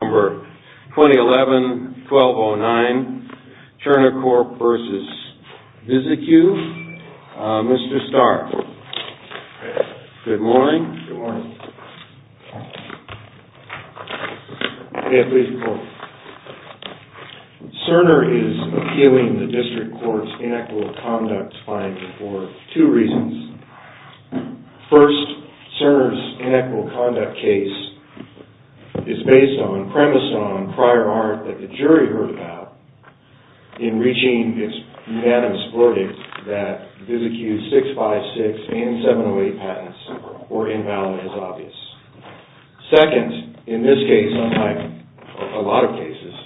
Number 2011-1209, CERNER CORP v. VISICU, Mr. Stark. Good morning. Good morning. May I please record? CERNER is appealing the District Court's Inequal Conduct finding for two reasons. First, CERNER's Inequal Conduct case is based on, premised on, prior art that the jury heard about in reaching its unanimous verdict that VISICU's 656 and 708 patents were invalid as obvious. Second, in this case unlike a lot of cases,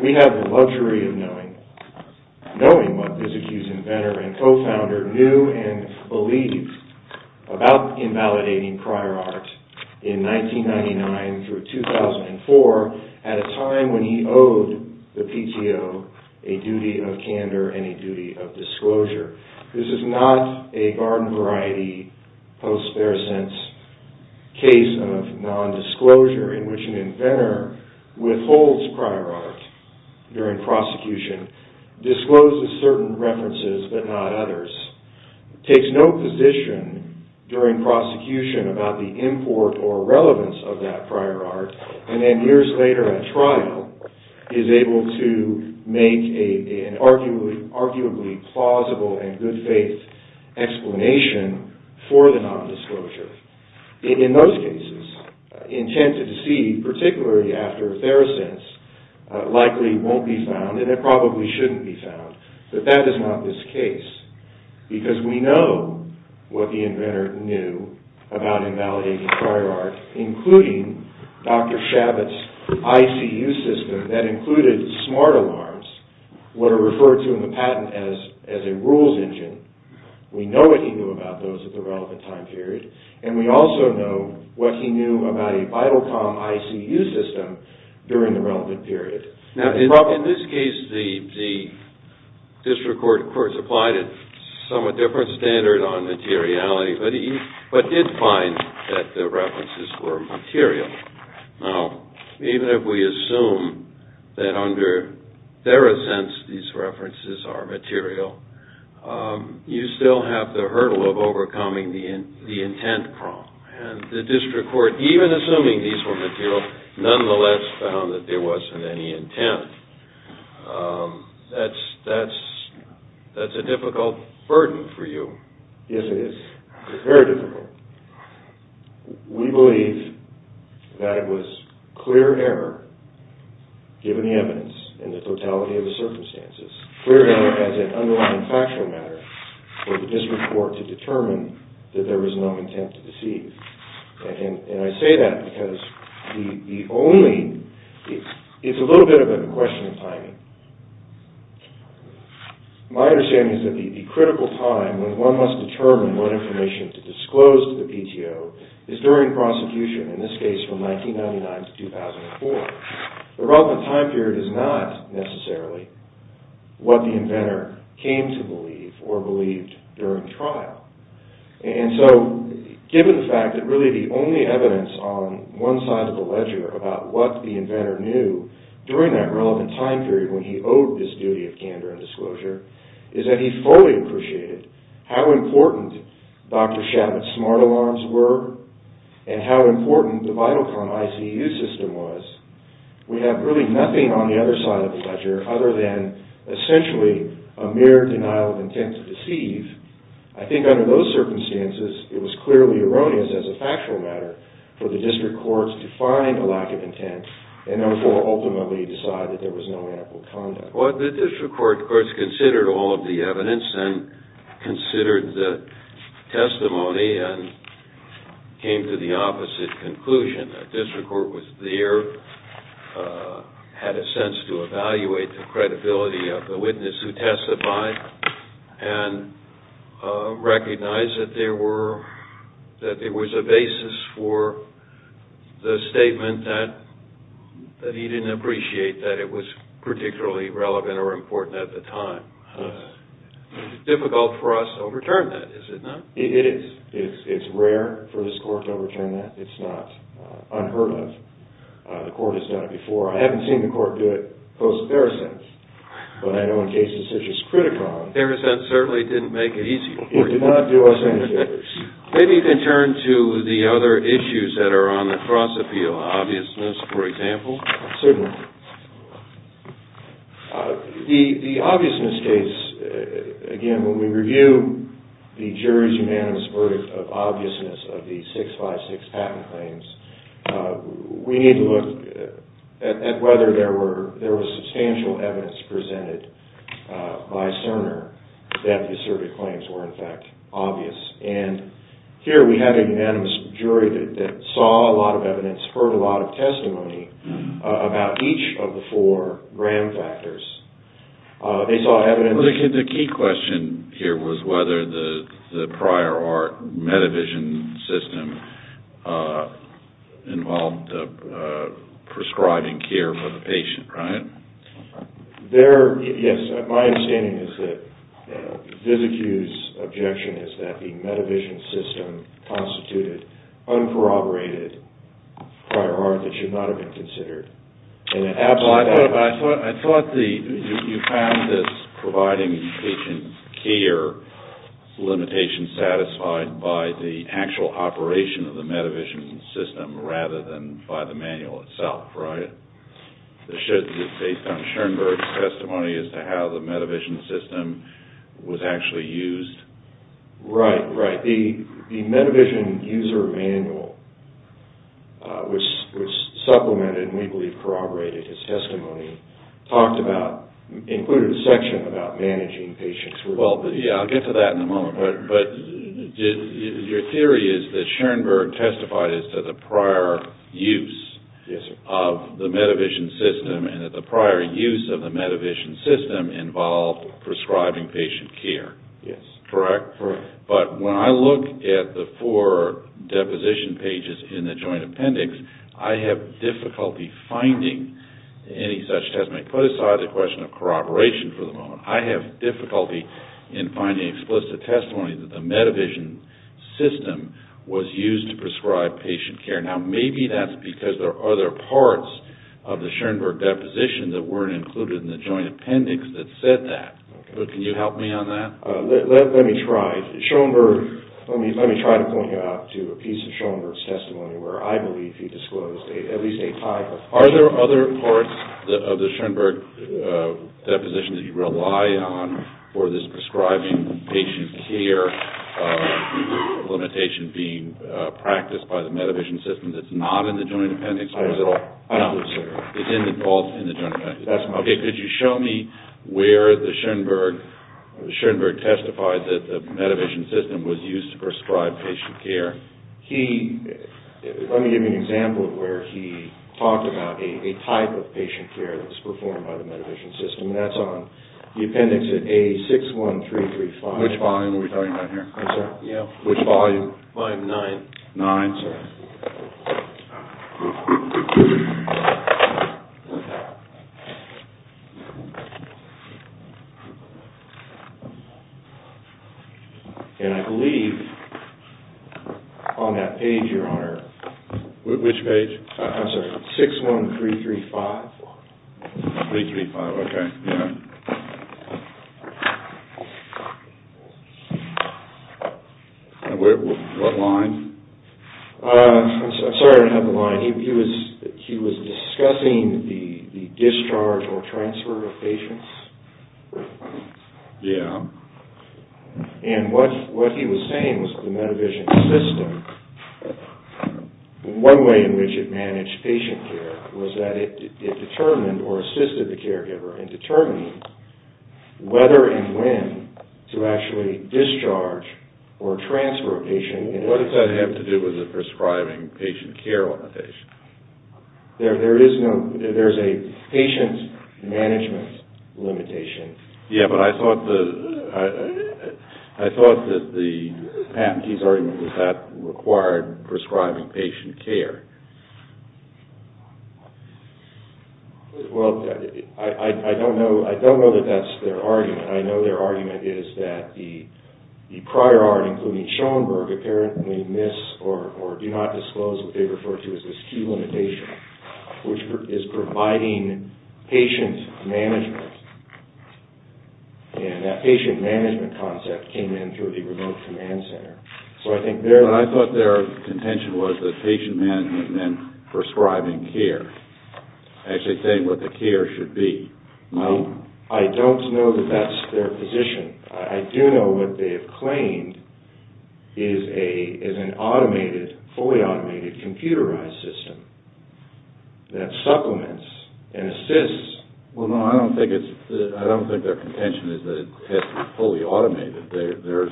we have the luxury of knowing what VISICU's inventor and co-founder knew and believed about invalidating prior art in 1999 through 2004 at a time when he owed the PTO a duty of candor and a duty of disclosure. This is not a garden variety post-bear sense case of non-disclosure in which an inventor withholds prior art during prosecution, discloses certain references but not others, takes no position during prosecution about the import or relevance of that prior art, and then years later at trial is able to make an arguably plausible and good faith explanation for the non-disclosure. In those cases, intent to deceive, particularly after a fair sense, likely won't be found and it probably shouldn't be found, but that is not this case because we know what the inventor knew about invalidating prior art, including Dr. Shabbat's ICU system that included smart alarms, what are referred to in the patent as a rules engine. We know what he knew about those at the relevant time period and we also know what he knew about a vital com ICU system during the relevant period. In this case, the district court of course applied a somewhat different standard on materiality but did find that the references were material. Now, even if we assume that under their assents these references are material, you still have the hurdle of overcoming the intent problem and the district court, even assuming these were material, nonetheless found that there wasn't any intent. That's a difficult burden for you. Yes, it is. It's very difficult. We believe that it was clear error given the evidence and the totality of the circumstances, clear error as an underlying factual matter for the district court to determine that there was no intent to deceive. I say that because it's a little bit of a question of timing. My understanding is that the critical time when one must determine what information to disclose to the PTO is during prosecution, in this case from 1999 to 2004. The relevant time period is not necessarily what the inventor came to believe or believed during trial. And so, given the fact that really the only evidence on one side of the ledger about what the inventor knew during that relevant time period when he owed this duty of candor and disclosure is that he fully appreciated how important Dr. Shabbat's smart alarms were and how important the vital com ICU system was We have really nothing on the other side of the ledger other than essentially a mere denial of intent to deceive. I think under those circumstances, it was clearly erroneous as a factual matter for the district courts to find a lack of intent and therefore ultimately decide that there was no ample conduct. The district court, of course, considered all of the evidence and considered the testimony and came to the opposite conclusion. The district court was there, had a sense to evaluate the credibility of the witness who testified, and recognized that there was a basis for the statement that he didn't appreciate that it was particularly relevant. It's difficult for us to overturn that, is it not? It is. It's rare for this court to overturn that. It's not unheard of. The court has done it before. I haven't seen the court do it post-Parisense, but I know in cases such as Criticon, Parisense certainly didn't make it easier for you. It did not do us any favors. Maybe you can turn to the other issues that are on the cross-appeal. Obviousness, for example. Here we have a unanimous jury that saw a lot of evidence, heard a lot of testimony about each of the four RAM factors. The key question here was whether the prior art metavision system involved prescribing care for the patient, right? Yes, my understanding is that Visicu's objection is that the metavision system constituted uncorroborated prior art that should not have been considered. I thought you found this providing patient care limitation satisfied by the actual operation of the metavision system rather than by the manual itself, right? It's based on Schoenberg's testimony as to how the metavision system was actually used. Right, right. The metavision user manual, which supplemented and we believe corroborated his testimony, included a section about managing patients. I'll get to that in a moment, but your theory is that Schoenberg testified as to the prior use of the metavision system and that the prior use of the metavision system involved prescribing patient care. Yes. Correct? Correct. But when I look at the four deposition pages in the joint appendix, I have difficulty finding any such testimony. Put aside the question of corroboration for the moment. I have difficulty in finding explicit testimony that the metavision system was used to prescribe patient care. Now, maybe that's because there are other parts of the Schoenberg deposition that weren't included in the joint appendix that said that, but can you help me on that? Let me try. Schoenberg, let me try to point you out to a piece of Schoenberg's testimony where I believe he disclosed at least a type of... Are there other parts of the Schoenberg deposition that you rely on for this prescribing patient care limitation being practiced by the metavision system that's not in the joint appendix? No. It's in the joint appendix. That's my... Okay. Could you show me where the Schoenberg testified that the metavision system was used to prescribe patient care? Let me give you an example of where he talked about a type of patient care that's performed by the metavision system, and that's on the appendix at A61335. Which volume are we talking about here? I'm sorry? Yeah. Which volume? Volume nine. Nine. I'm sorry. And I believe on that page, your honor... Which page? I'm sorry. 335, okay. Yeah. What line? I'm sorry I don't have the line. He was discussing the discharge or transfer of patients. Yeah. And what he was saying was the metavision system, one way in which it managed patient care was that it determined or assisted the caregiver in determining whether and when to actually discharge or transfer a patient. What does that have to do with the prescribing patient care limitation? There is no... There's a patient management limitation. Yeah, but I thought the patentee's argument was that required prescribing patient care. Well, I don't know that that's their argument. I know their argument is that the prior art, including Schoenberg, apparently miss or do not disclose what they refer to as this key limitation, which is providing patient management. And that patient management concept came in through the remote command center. So I think they're... But I thought their contention was that patient management meant prescribing care. Actually saying what the care should be. Well, I don't know that that's their position. I do know what they have claimed is an automated, fully automated computerized system that supplements and assists. Well, no, I don't think their contention is that it has to be fully automated. They're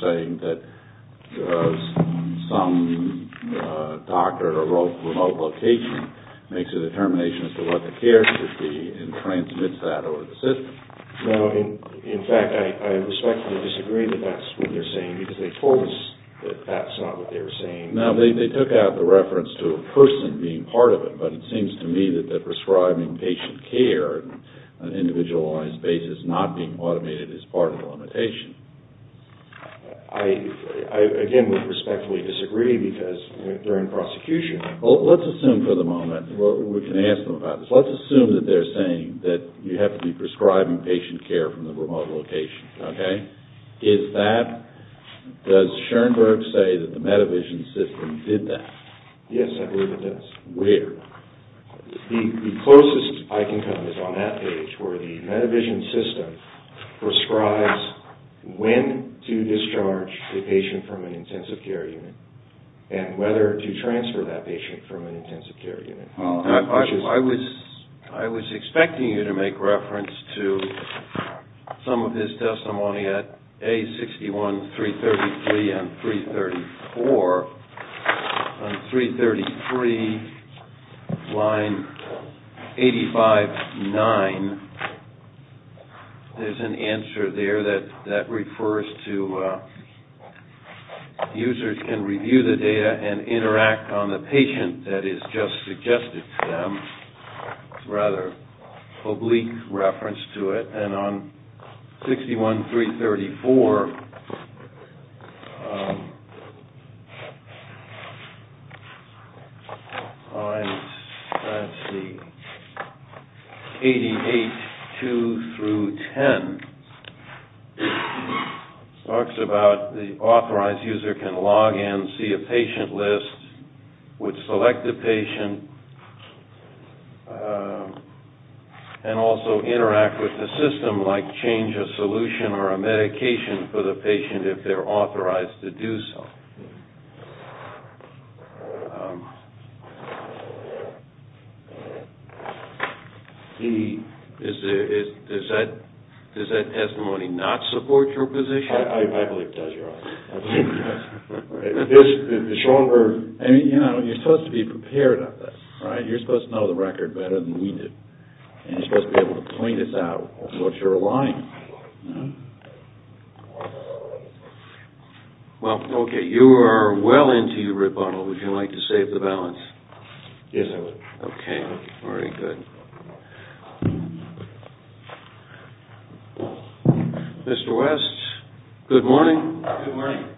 saying that some doctor or remote location makes a determination as to what the care should be and transmits that over the system. No, in fact, I respectfully disagree that that's what they're saying because they told us that that's not what they were saying. No, they took out the reference to a person being part of it. But it seems to me that they're prescribing patient care on an individualized basis, not being automated, is part of the limitation. I, again, would respectfully disagree because they're in prosecution. Well, let's assume for the moment, we can ask them about this. Let's assume that they're saying that you have to be prescribing patient care from the remote location, okay? Does Schoenberg say that the Medivision system did that? Yes, I believe it does. Where? The closest I can come is on that page where the Medivision system prescribes when to discharge a patient from an intensive care unit and whether to transfer that patient from an intensive care unit. I was expecting you to make reference to some of his testimony at A61-333 and 334. On 333, line 85-9, there's an answer there that refers to users can review the data and interact on the patient that is just suggested to them. It's a rather oblique reference to it. And on 61-334, lines 88-2-10, it talks about the authorized user can log in, see a patient list, would select a patient, and also interact with the system, like change a solution or a medication for the patient if they're authorized to do so. Does that testimony not support your position? I believe it does, Your Honor. The stronger... You're supposed to be prepared on this, right? You're supposed to know the record better than we do. And you're supposed to be able to point us out what you're relying on. Well, okay, you are well into your rebuttal. Would you like to save the balance? Yes, I would. Okay, very good. Mr. West, good morning. Good morning.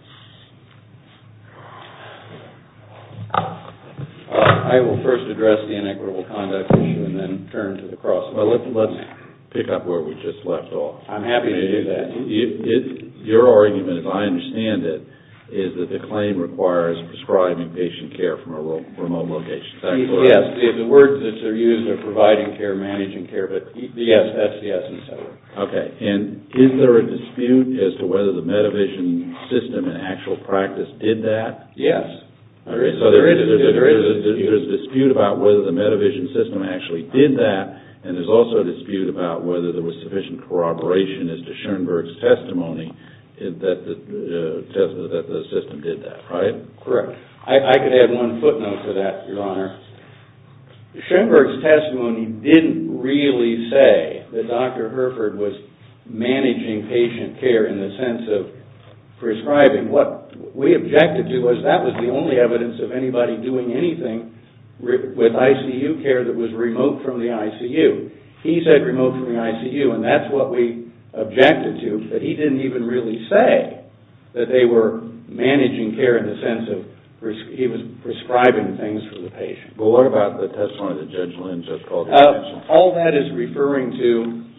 I will first address the inequitable conduct issue and then turn to the cross. Let's pick up where we just left off. I'm happy to do that. Your argument, as I understand it, is that the claim requires prescribing patient care from a remote location. Yes, the words that are used are providing care, managing care, but yes, that's the essence of it. Okay, and is there a dispute as to whether the Medivision system in actual practice did that? Yes. So there is a dispute about whether the Medivision system actually did that, and there's also a dispute about whether there was sufficient corroboration as to Schoenberg's testimony that the system did that, right? Correct. Schoenberg's testimony didn't really say that Dr. Hereford was managing patient care in the sense of prescribing. What we objected to was that was the only evidence of anybody doing anything with ICU care that was remote from the ICU. He said remote from the ICU, and that's what we objected to, that he didn't even really say that they were managing care in the sense of he was prescribing things for the patient. Well, what about the testimony that Judge Lynn just called out? All that is referring to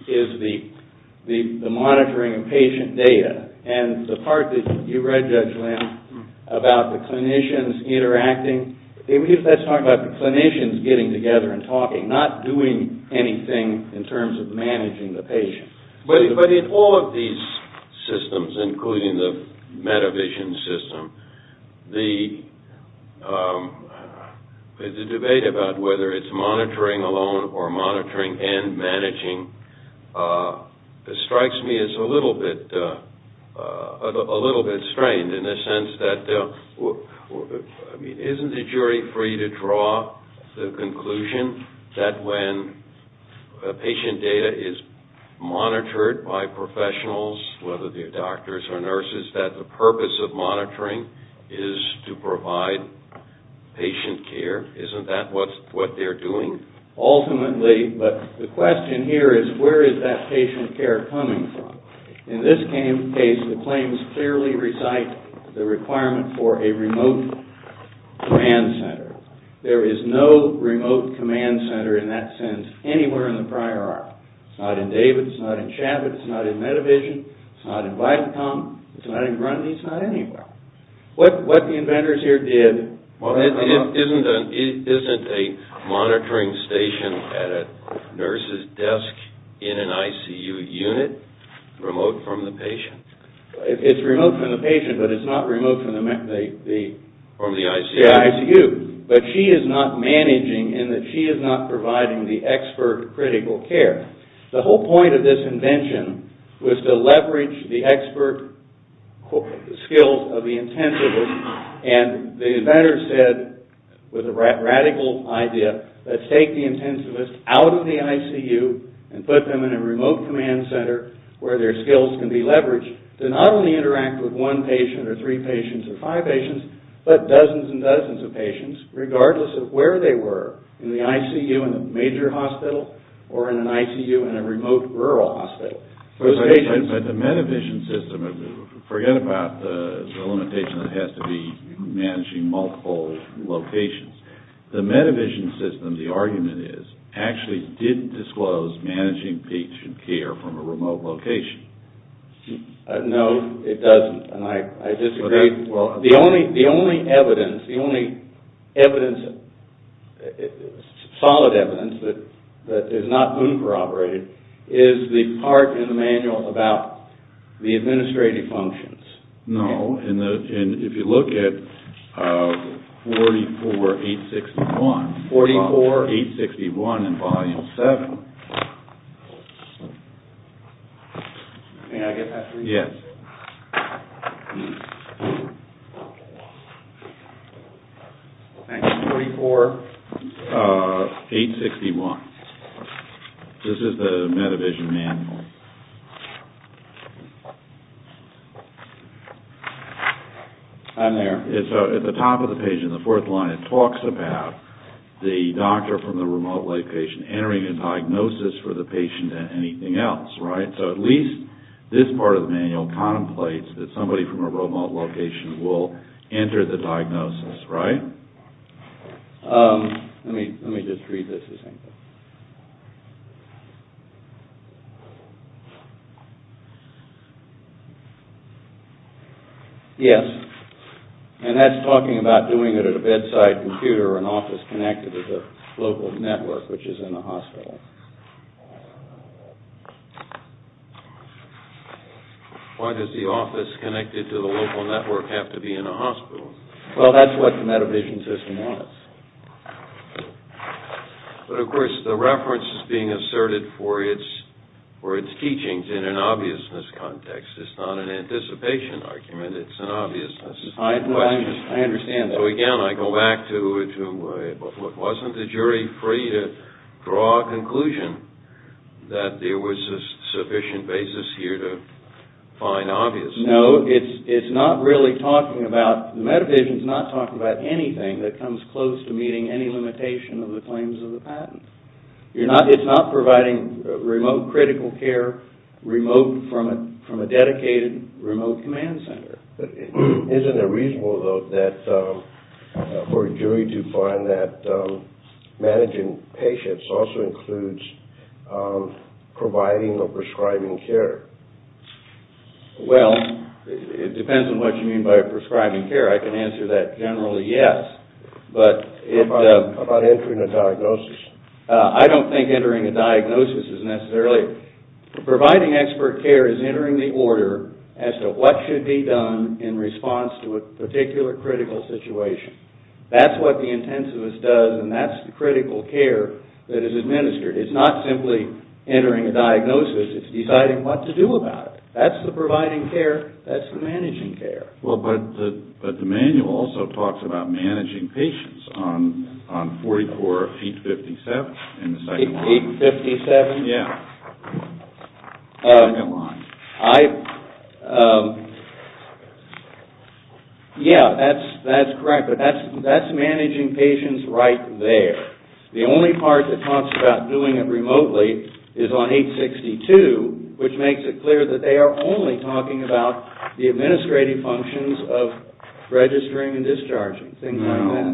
is the monitoring of patient data, and the part that you read, Judge Lynn, about the clinicians interacting. That's talking about the clinicians getting together and talking, not doing anything in terms of managing the patient. But in all of these systems, including the Medivision system, the debate about whether it's monitoring alone or monitoring and managing strikes me as a little bit strained, in the sense that isn't the jury free to draw the conclusion that when patient data is monitored by professionals, whether they're doctors or nurses, that the purpose of monitoring is to provide patient care? Isn't that what they're doing? Ultimately, but the question here is where is that patient care coming from? In this case, the claims clearly recite the requirement for a remote command center. There is no remote command center in that sense anywhere in the prior arc. It's not in David's, it's not in Chabot's, it's not in Medivision, it's not in Viacom, it's not in Grundy, it's not anywhere. What the inventors here did... Isn't a monitoring station at a nurse's desk in an ICU unit remote from the patient? It's remote from the patient, but it's not remote from the ICU. But she is not managing in that she is not providing the expert critical care. The whole point of this invention was to leverage the expert skills of the intensivist, and the inventors said with a radical idea that take the intensivist out of the ICU and put them in a remote command center where their skills can be leveraged to not only interact with one patient or three patients or five patients, but dozens and dozens of patients regardless of where they were, in the ICU in a major hospital or in an ICU in a remote rural hospital. But the Medivision system... Forget about the limitation that has to be managing multiple locations. The Medivision system, the argument is, actually didn't disclose managing patient care from a remote location. No, it doesn't, and I disagree. The only evidence, the only solid evidence that is not uncorroborated is the part in the manual about the administrative functions. No, and if you look at 44861 in Volume 7... Thank you. 44861. This is the Medivision manual. And there, at the top of the page in the fourth line, it talks about the doctor from the remote location entering a diagnosis for the patient and anything else, right? So at least this part of the manual contemplates that somebody from a remote location will enter the diagnosis, right? Let me just read this. Yes, and that's talking about doing it at a bedside computer or an office connected to the local network, which is in a hospital. Why does the office connected to the local network have to be in a hospital? Well, that's what the Medivision system was. But of course, the reference is being asserted for its teachings in an obviousness context. It's not an anticipation argument, it's an obviousness. I understand that. So again, I go back to, wasn't the jury free to draw a conclusion that there was a sufficient basis here to find obviousness? No, it's not really talking about... Medivision's not talking about anything that comes close to meeting any limitation of the claims of the patent. It's not providing remote critical care from a dedicated remote command center. Isn't it reasonable, though, for a jury to find that managing patients also includes providing or prescribing care? Well, it depends on what you mean by prescribing care. I can answer that generally, yes. How about entering a diagnosis? I don't think entering a diagnosis is necessarily... Providing expert care is entering the order as to what should be done in response to a particular critical situation. That's what the intensivist does, and that's the critical care that is administered. It's not simply entering a diagnosis. It's deciding what to do about it. That's the providing care. That's the managing care. But the manual also talks about managing patients on 44 feet 57. Yeah, that's correct, but that's managing patients right there. The only part that talks about doing it remotely is on 862, which makes it clear that they are only talking about the administrative functions of registering and discharging, things like that.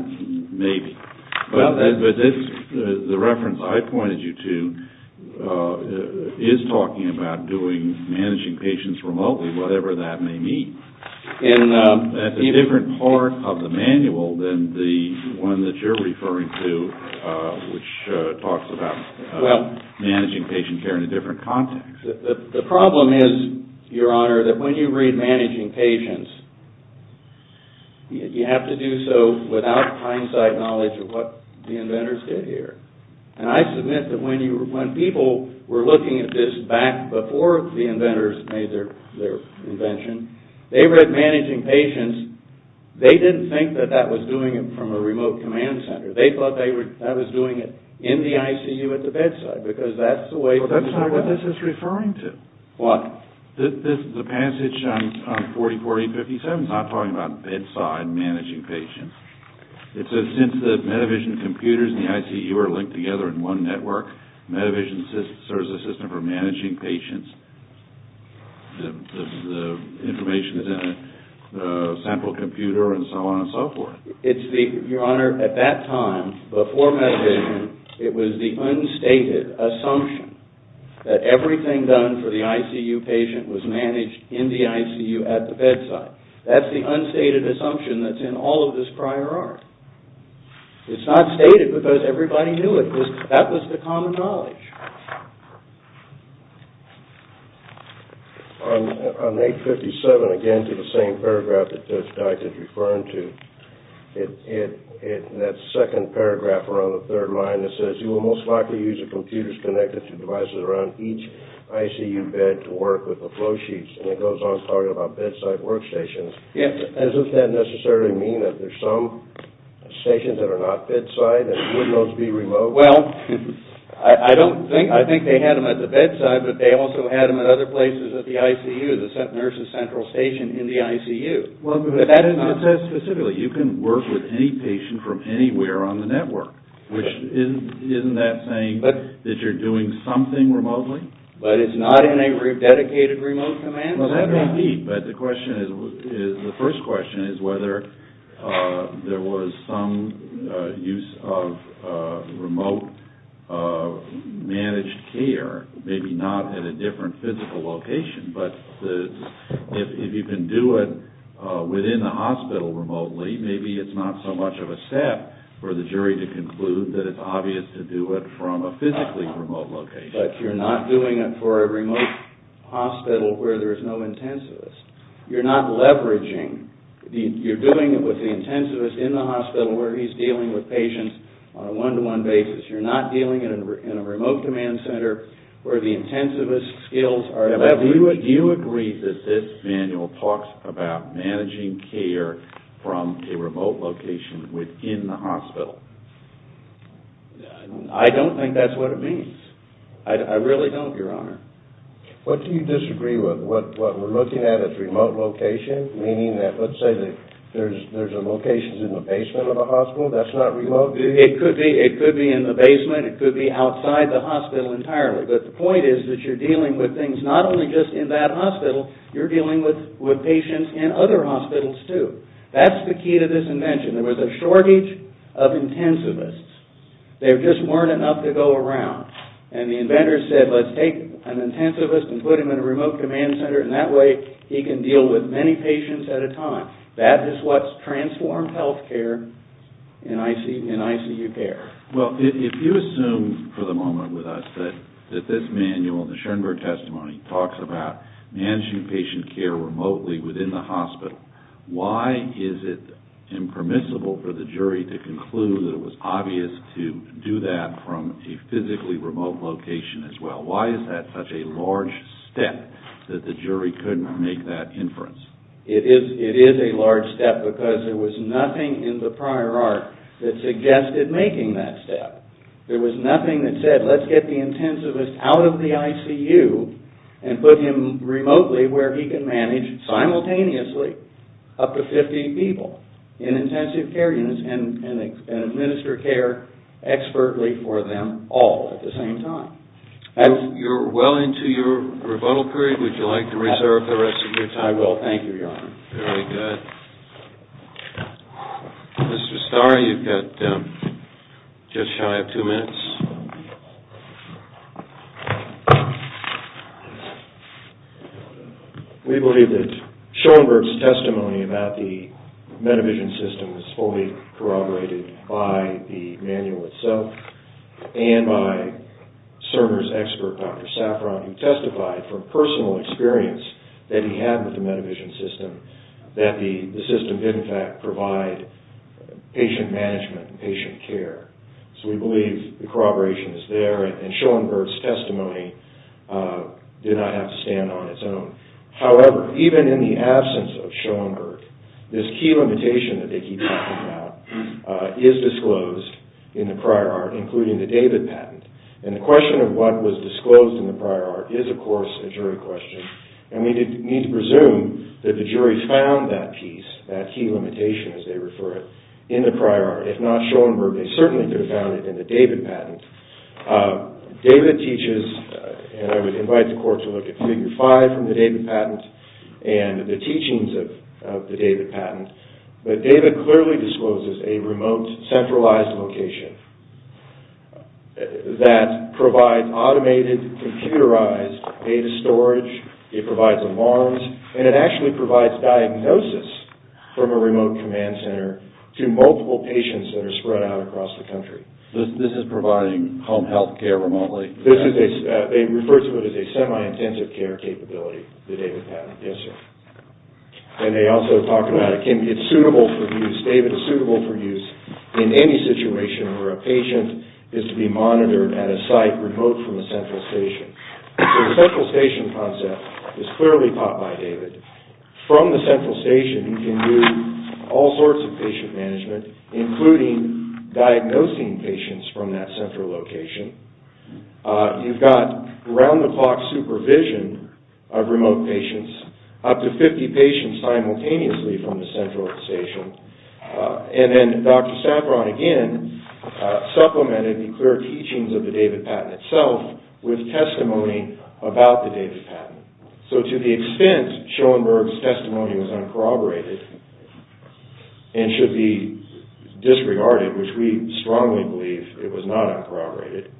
Maybe. But the reference I pointed you to is talking about doing managing patients remotely, whatever that may mean. That's a different part of the manual than the one that you're referring to, which talks about managing patient care in a different context. The problem is, Your Honor, that when you read managing patients, you have to do so without hindsight knowledge of what the inventors did here. And I submit that when people were looking at this back before the inventors made their invention, they read managing patients, they didn't think that that was doing it from a remote command center. They thought that was doing it in the ICU at the bedside, because that's the way things are done. But that's not what this is referring to. What? The passage on 404057 is not talking about bedside managing patients. It says since the Medivision computers and the ICU are linked together in one network, Medivision serves a system for managing patients. The information is in a sample computer and so on and so forth. Your Honor, at that time, before Medivision, it was the unstated assumption that everything done for the ICU patient was managed in the ICU at the bedside. That's the unstated assumption that's in all of this prior art. It's not stated because everybody knew it. That was the common knowledge. On 857, again, to the same paragraph that Judge Dykes is referring to, in that second paragraph around the third line, it says, you will most likely use the computers connected to devices around each ICU bed to work with the flow sheets. And it goes on talking about bedside workstations. Doesn't that necessarily mean that there's some stations that are not bedside and wouldn't those be remote? Well, I think they had them at the bedside, but they also had them at other places at the ICU, the nurse's central station in the ICU. It says specifically you can work with any patient from anywhere on the network, which isn't that saying that you're doing something remotely? But it's not in a dedicated remote command? Well, that may be, but the question is, the first question is whether there was some use of remote managed care, maybe not in a different physical location, but if you can do it within a hospital remotely, maybe it's not so much of a step for the jury to conclude that it's obvious to do it from a physically remote location. But you're not doing it for a remote hospital where there is no intensivist. You're not leveraging. You're doing it with the intensivist in the hospital where he's dealing with patients on a one-to-one basis. You're not dealing in a remote command center where the intensivist skills are leveraged. Do you agree that this manual talks about managing care from a remote location within the hospital? I don't think that's what it means. I really don't, Your Honor. What do you disagree with? What we're looking at is remote location, meaning that let's say there's a location in the basement of a hospital. That's not remote? It could be in the basement. It could be outside the hospital entirely. But the point is that you're dealing with things not only just in that hospital. You're dealing with patients in other hospitals too. That's the key to this invention. There was a shortage of intensivists. There just weren't enough to go around. And the inventor said let's take an intensivist and put him in a remote command center, and that way he can deal with many patients at a time. That is what's transformed health care in ICU care. Well, if you assume for the moment with us that this manual, the Schoenberg testimony, talks about managing patient care remotely within the hospital, why is it impermissible for the jury to conclude that it was obvious to do that from a physically remote location as well? Why is that such a large step that the jury couldn't make that inference? It is a large step because there was nothing in the prior art that suggested making that step. There was nothing that said let's get the intensivist out of the ICU and put him remotely where he can manage simultaneously up to 50 people in intensive care units and administer care expertly for them all at the same time. You're well into your rebuttal period. Would you like to reserve the rest of your time? I will. Thank you, Your Honor. Very good. Mr. Starr, you've got just shy of two minutes. We believe that Schoenberg's testimony about the Medivision system was fully corroborated by the manual itself and by Cerner's expert, Dr. Safran, who testified from personal experience that he had with the Medivision system that the system did in fact provide patient management and patient care. So we believe the corroboration is there and Schoenberg's testimony did not have to stand on its own. However, even in the absence of Schoenberg, this key limitation that they keep talking about is disclosed in the prior art, including the David patent. And the question of what was disclosed in the prior art is, of course, a jury question. And we need to presume that the jury found that piece, that key limitation, as they refer it, in the prior art. If not Schoenberg, they certainly could have found it in the David patent. David teaches, and I would invite the court to look at Figure 5 from the David patent and the teachings of the David patent, but David clearly discloses a remote, centralized location that provides automated, computerized data storage it provides alarms, and it actually provides diagnosis from a remote command center to multiple patients that are spread out across the country. This is providing home health care remotely? They refer to it as a semi-intensive care capability, the David patent. Yes, sir. And they also talk about it, it's suitable for use, David is suitable for use in any situation where a patient is to be monitored at a site remote from a central station. So the central station concept is clearly taught by David. From the central station, he can do all sorts of patient management, including diagnosing patients from that central location. You've got around-the-clock supervision of remote patients, up to 50 patients simultaneously from the central station. And then Dr. Saffron, again, supplemented the clear teachings of the David patent itself with testimony about the David patent. So to the extent Schoenberg's testimony was uncorroborated and should be disregarded, which we strongly believe it was not uncorroborated,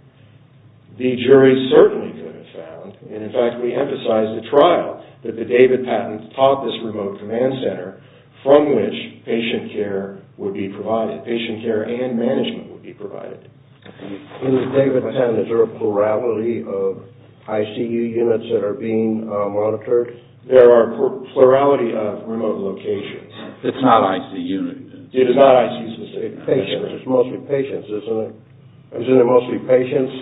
the jury certainly could have found, and in fact we emphasize the trial, that the David patent taught this remote command center from which patient care and management would be provided. In the David patent, is there a plurality of ICU units that are being monitored? There are a plurality of remote locations. It's not ICU. It is not ICU. It's mostly patients, isn't it? Isn't it mostly patients?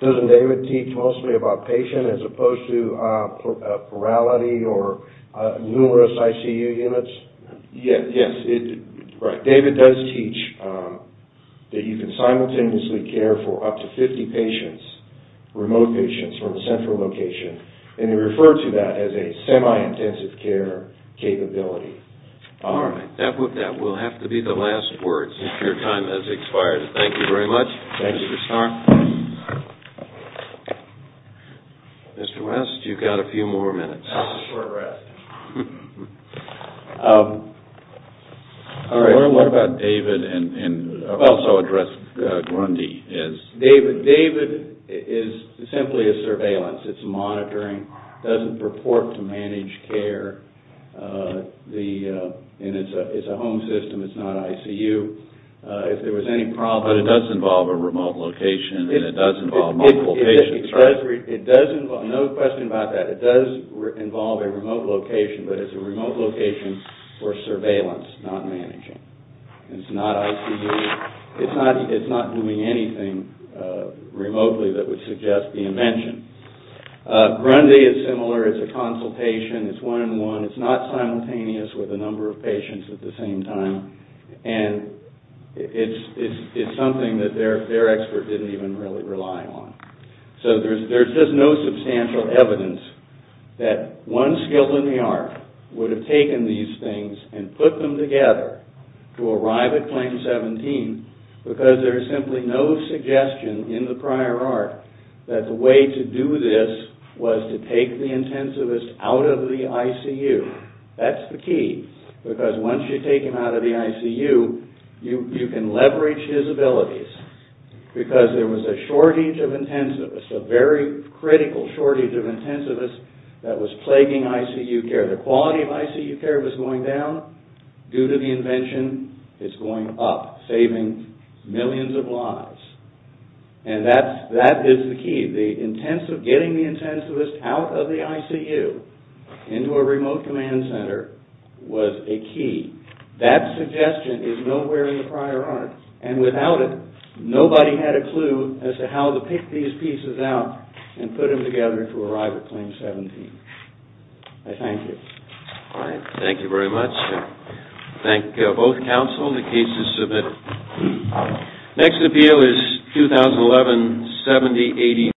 Doesn't David teach mostly about patient as opposed to plurality or numerous ICU units? Yes. David does teach that you can simultaneously care for up to 50 patients, remote patients from the central location, and he referred to that as a semi-intensive care capability. All right. That will have to be the last word since your time has expired. Thank you very much. Thank you, Mr. Starr. Mr. West, you've got a few more minutes. All right. What about David? I've also addressed Grundy. David is simply a surveillance. It's monitoring. It doesn't purport to manage care, and it's a home system. It's not ICU. But it does involve a remote location, and it does involve multiple patients, right? No question about that. It does involve a remote location, but it's a remote location for surveillance, not managing. It's not ICU. It's not doing anything remotely that would suggest being mentioned. Grundy is similar. It's a consultation. It's one-on-one. It's not simultaneous with a number of patients at the same time, and it's something that their expert didn't even really rely on. So there's just no substantial evidence that one skill in the art would have taken these things and put them together to arrive at claim 17 because there is simply no suggestion in the prior art that the way to do this was to take the intensivist out of the ICU. That's the key because once you take him out of the ICU, you can leverage his abilities because there was a shortage of intensivists, a very critical shortage of intensivists that was plaguing ICU care. The quality of ICU care was going down due to the invention. It's going up, saving millions of lives, and that is the key. The intent of getting the intensivist out of the ICU into a remote command center was a key. That suggestion is nowhere in the prior art, and without it, nobody had a clue as to how to pick these pieces out and put them together to arrive at claim 17. I thank you. All right. Thank you very much. I thank both counsel. The case is submitted. Next appeal is 2011-7089.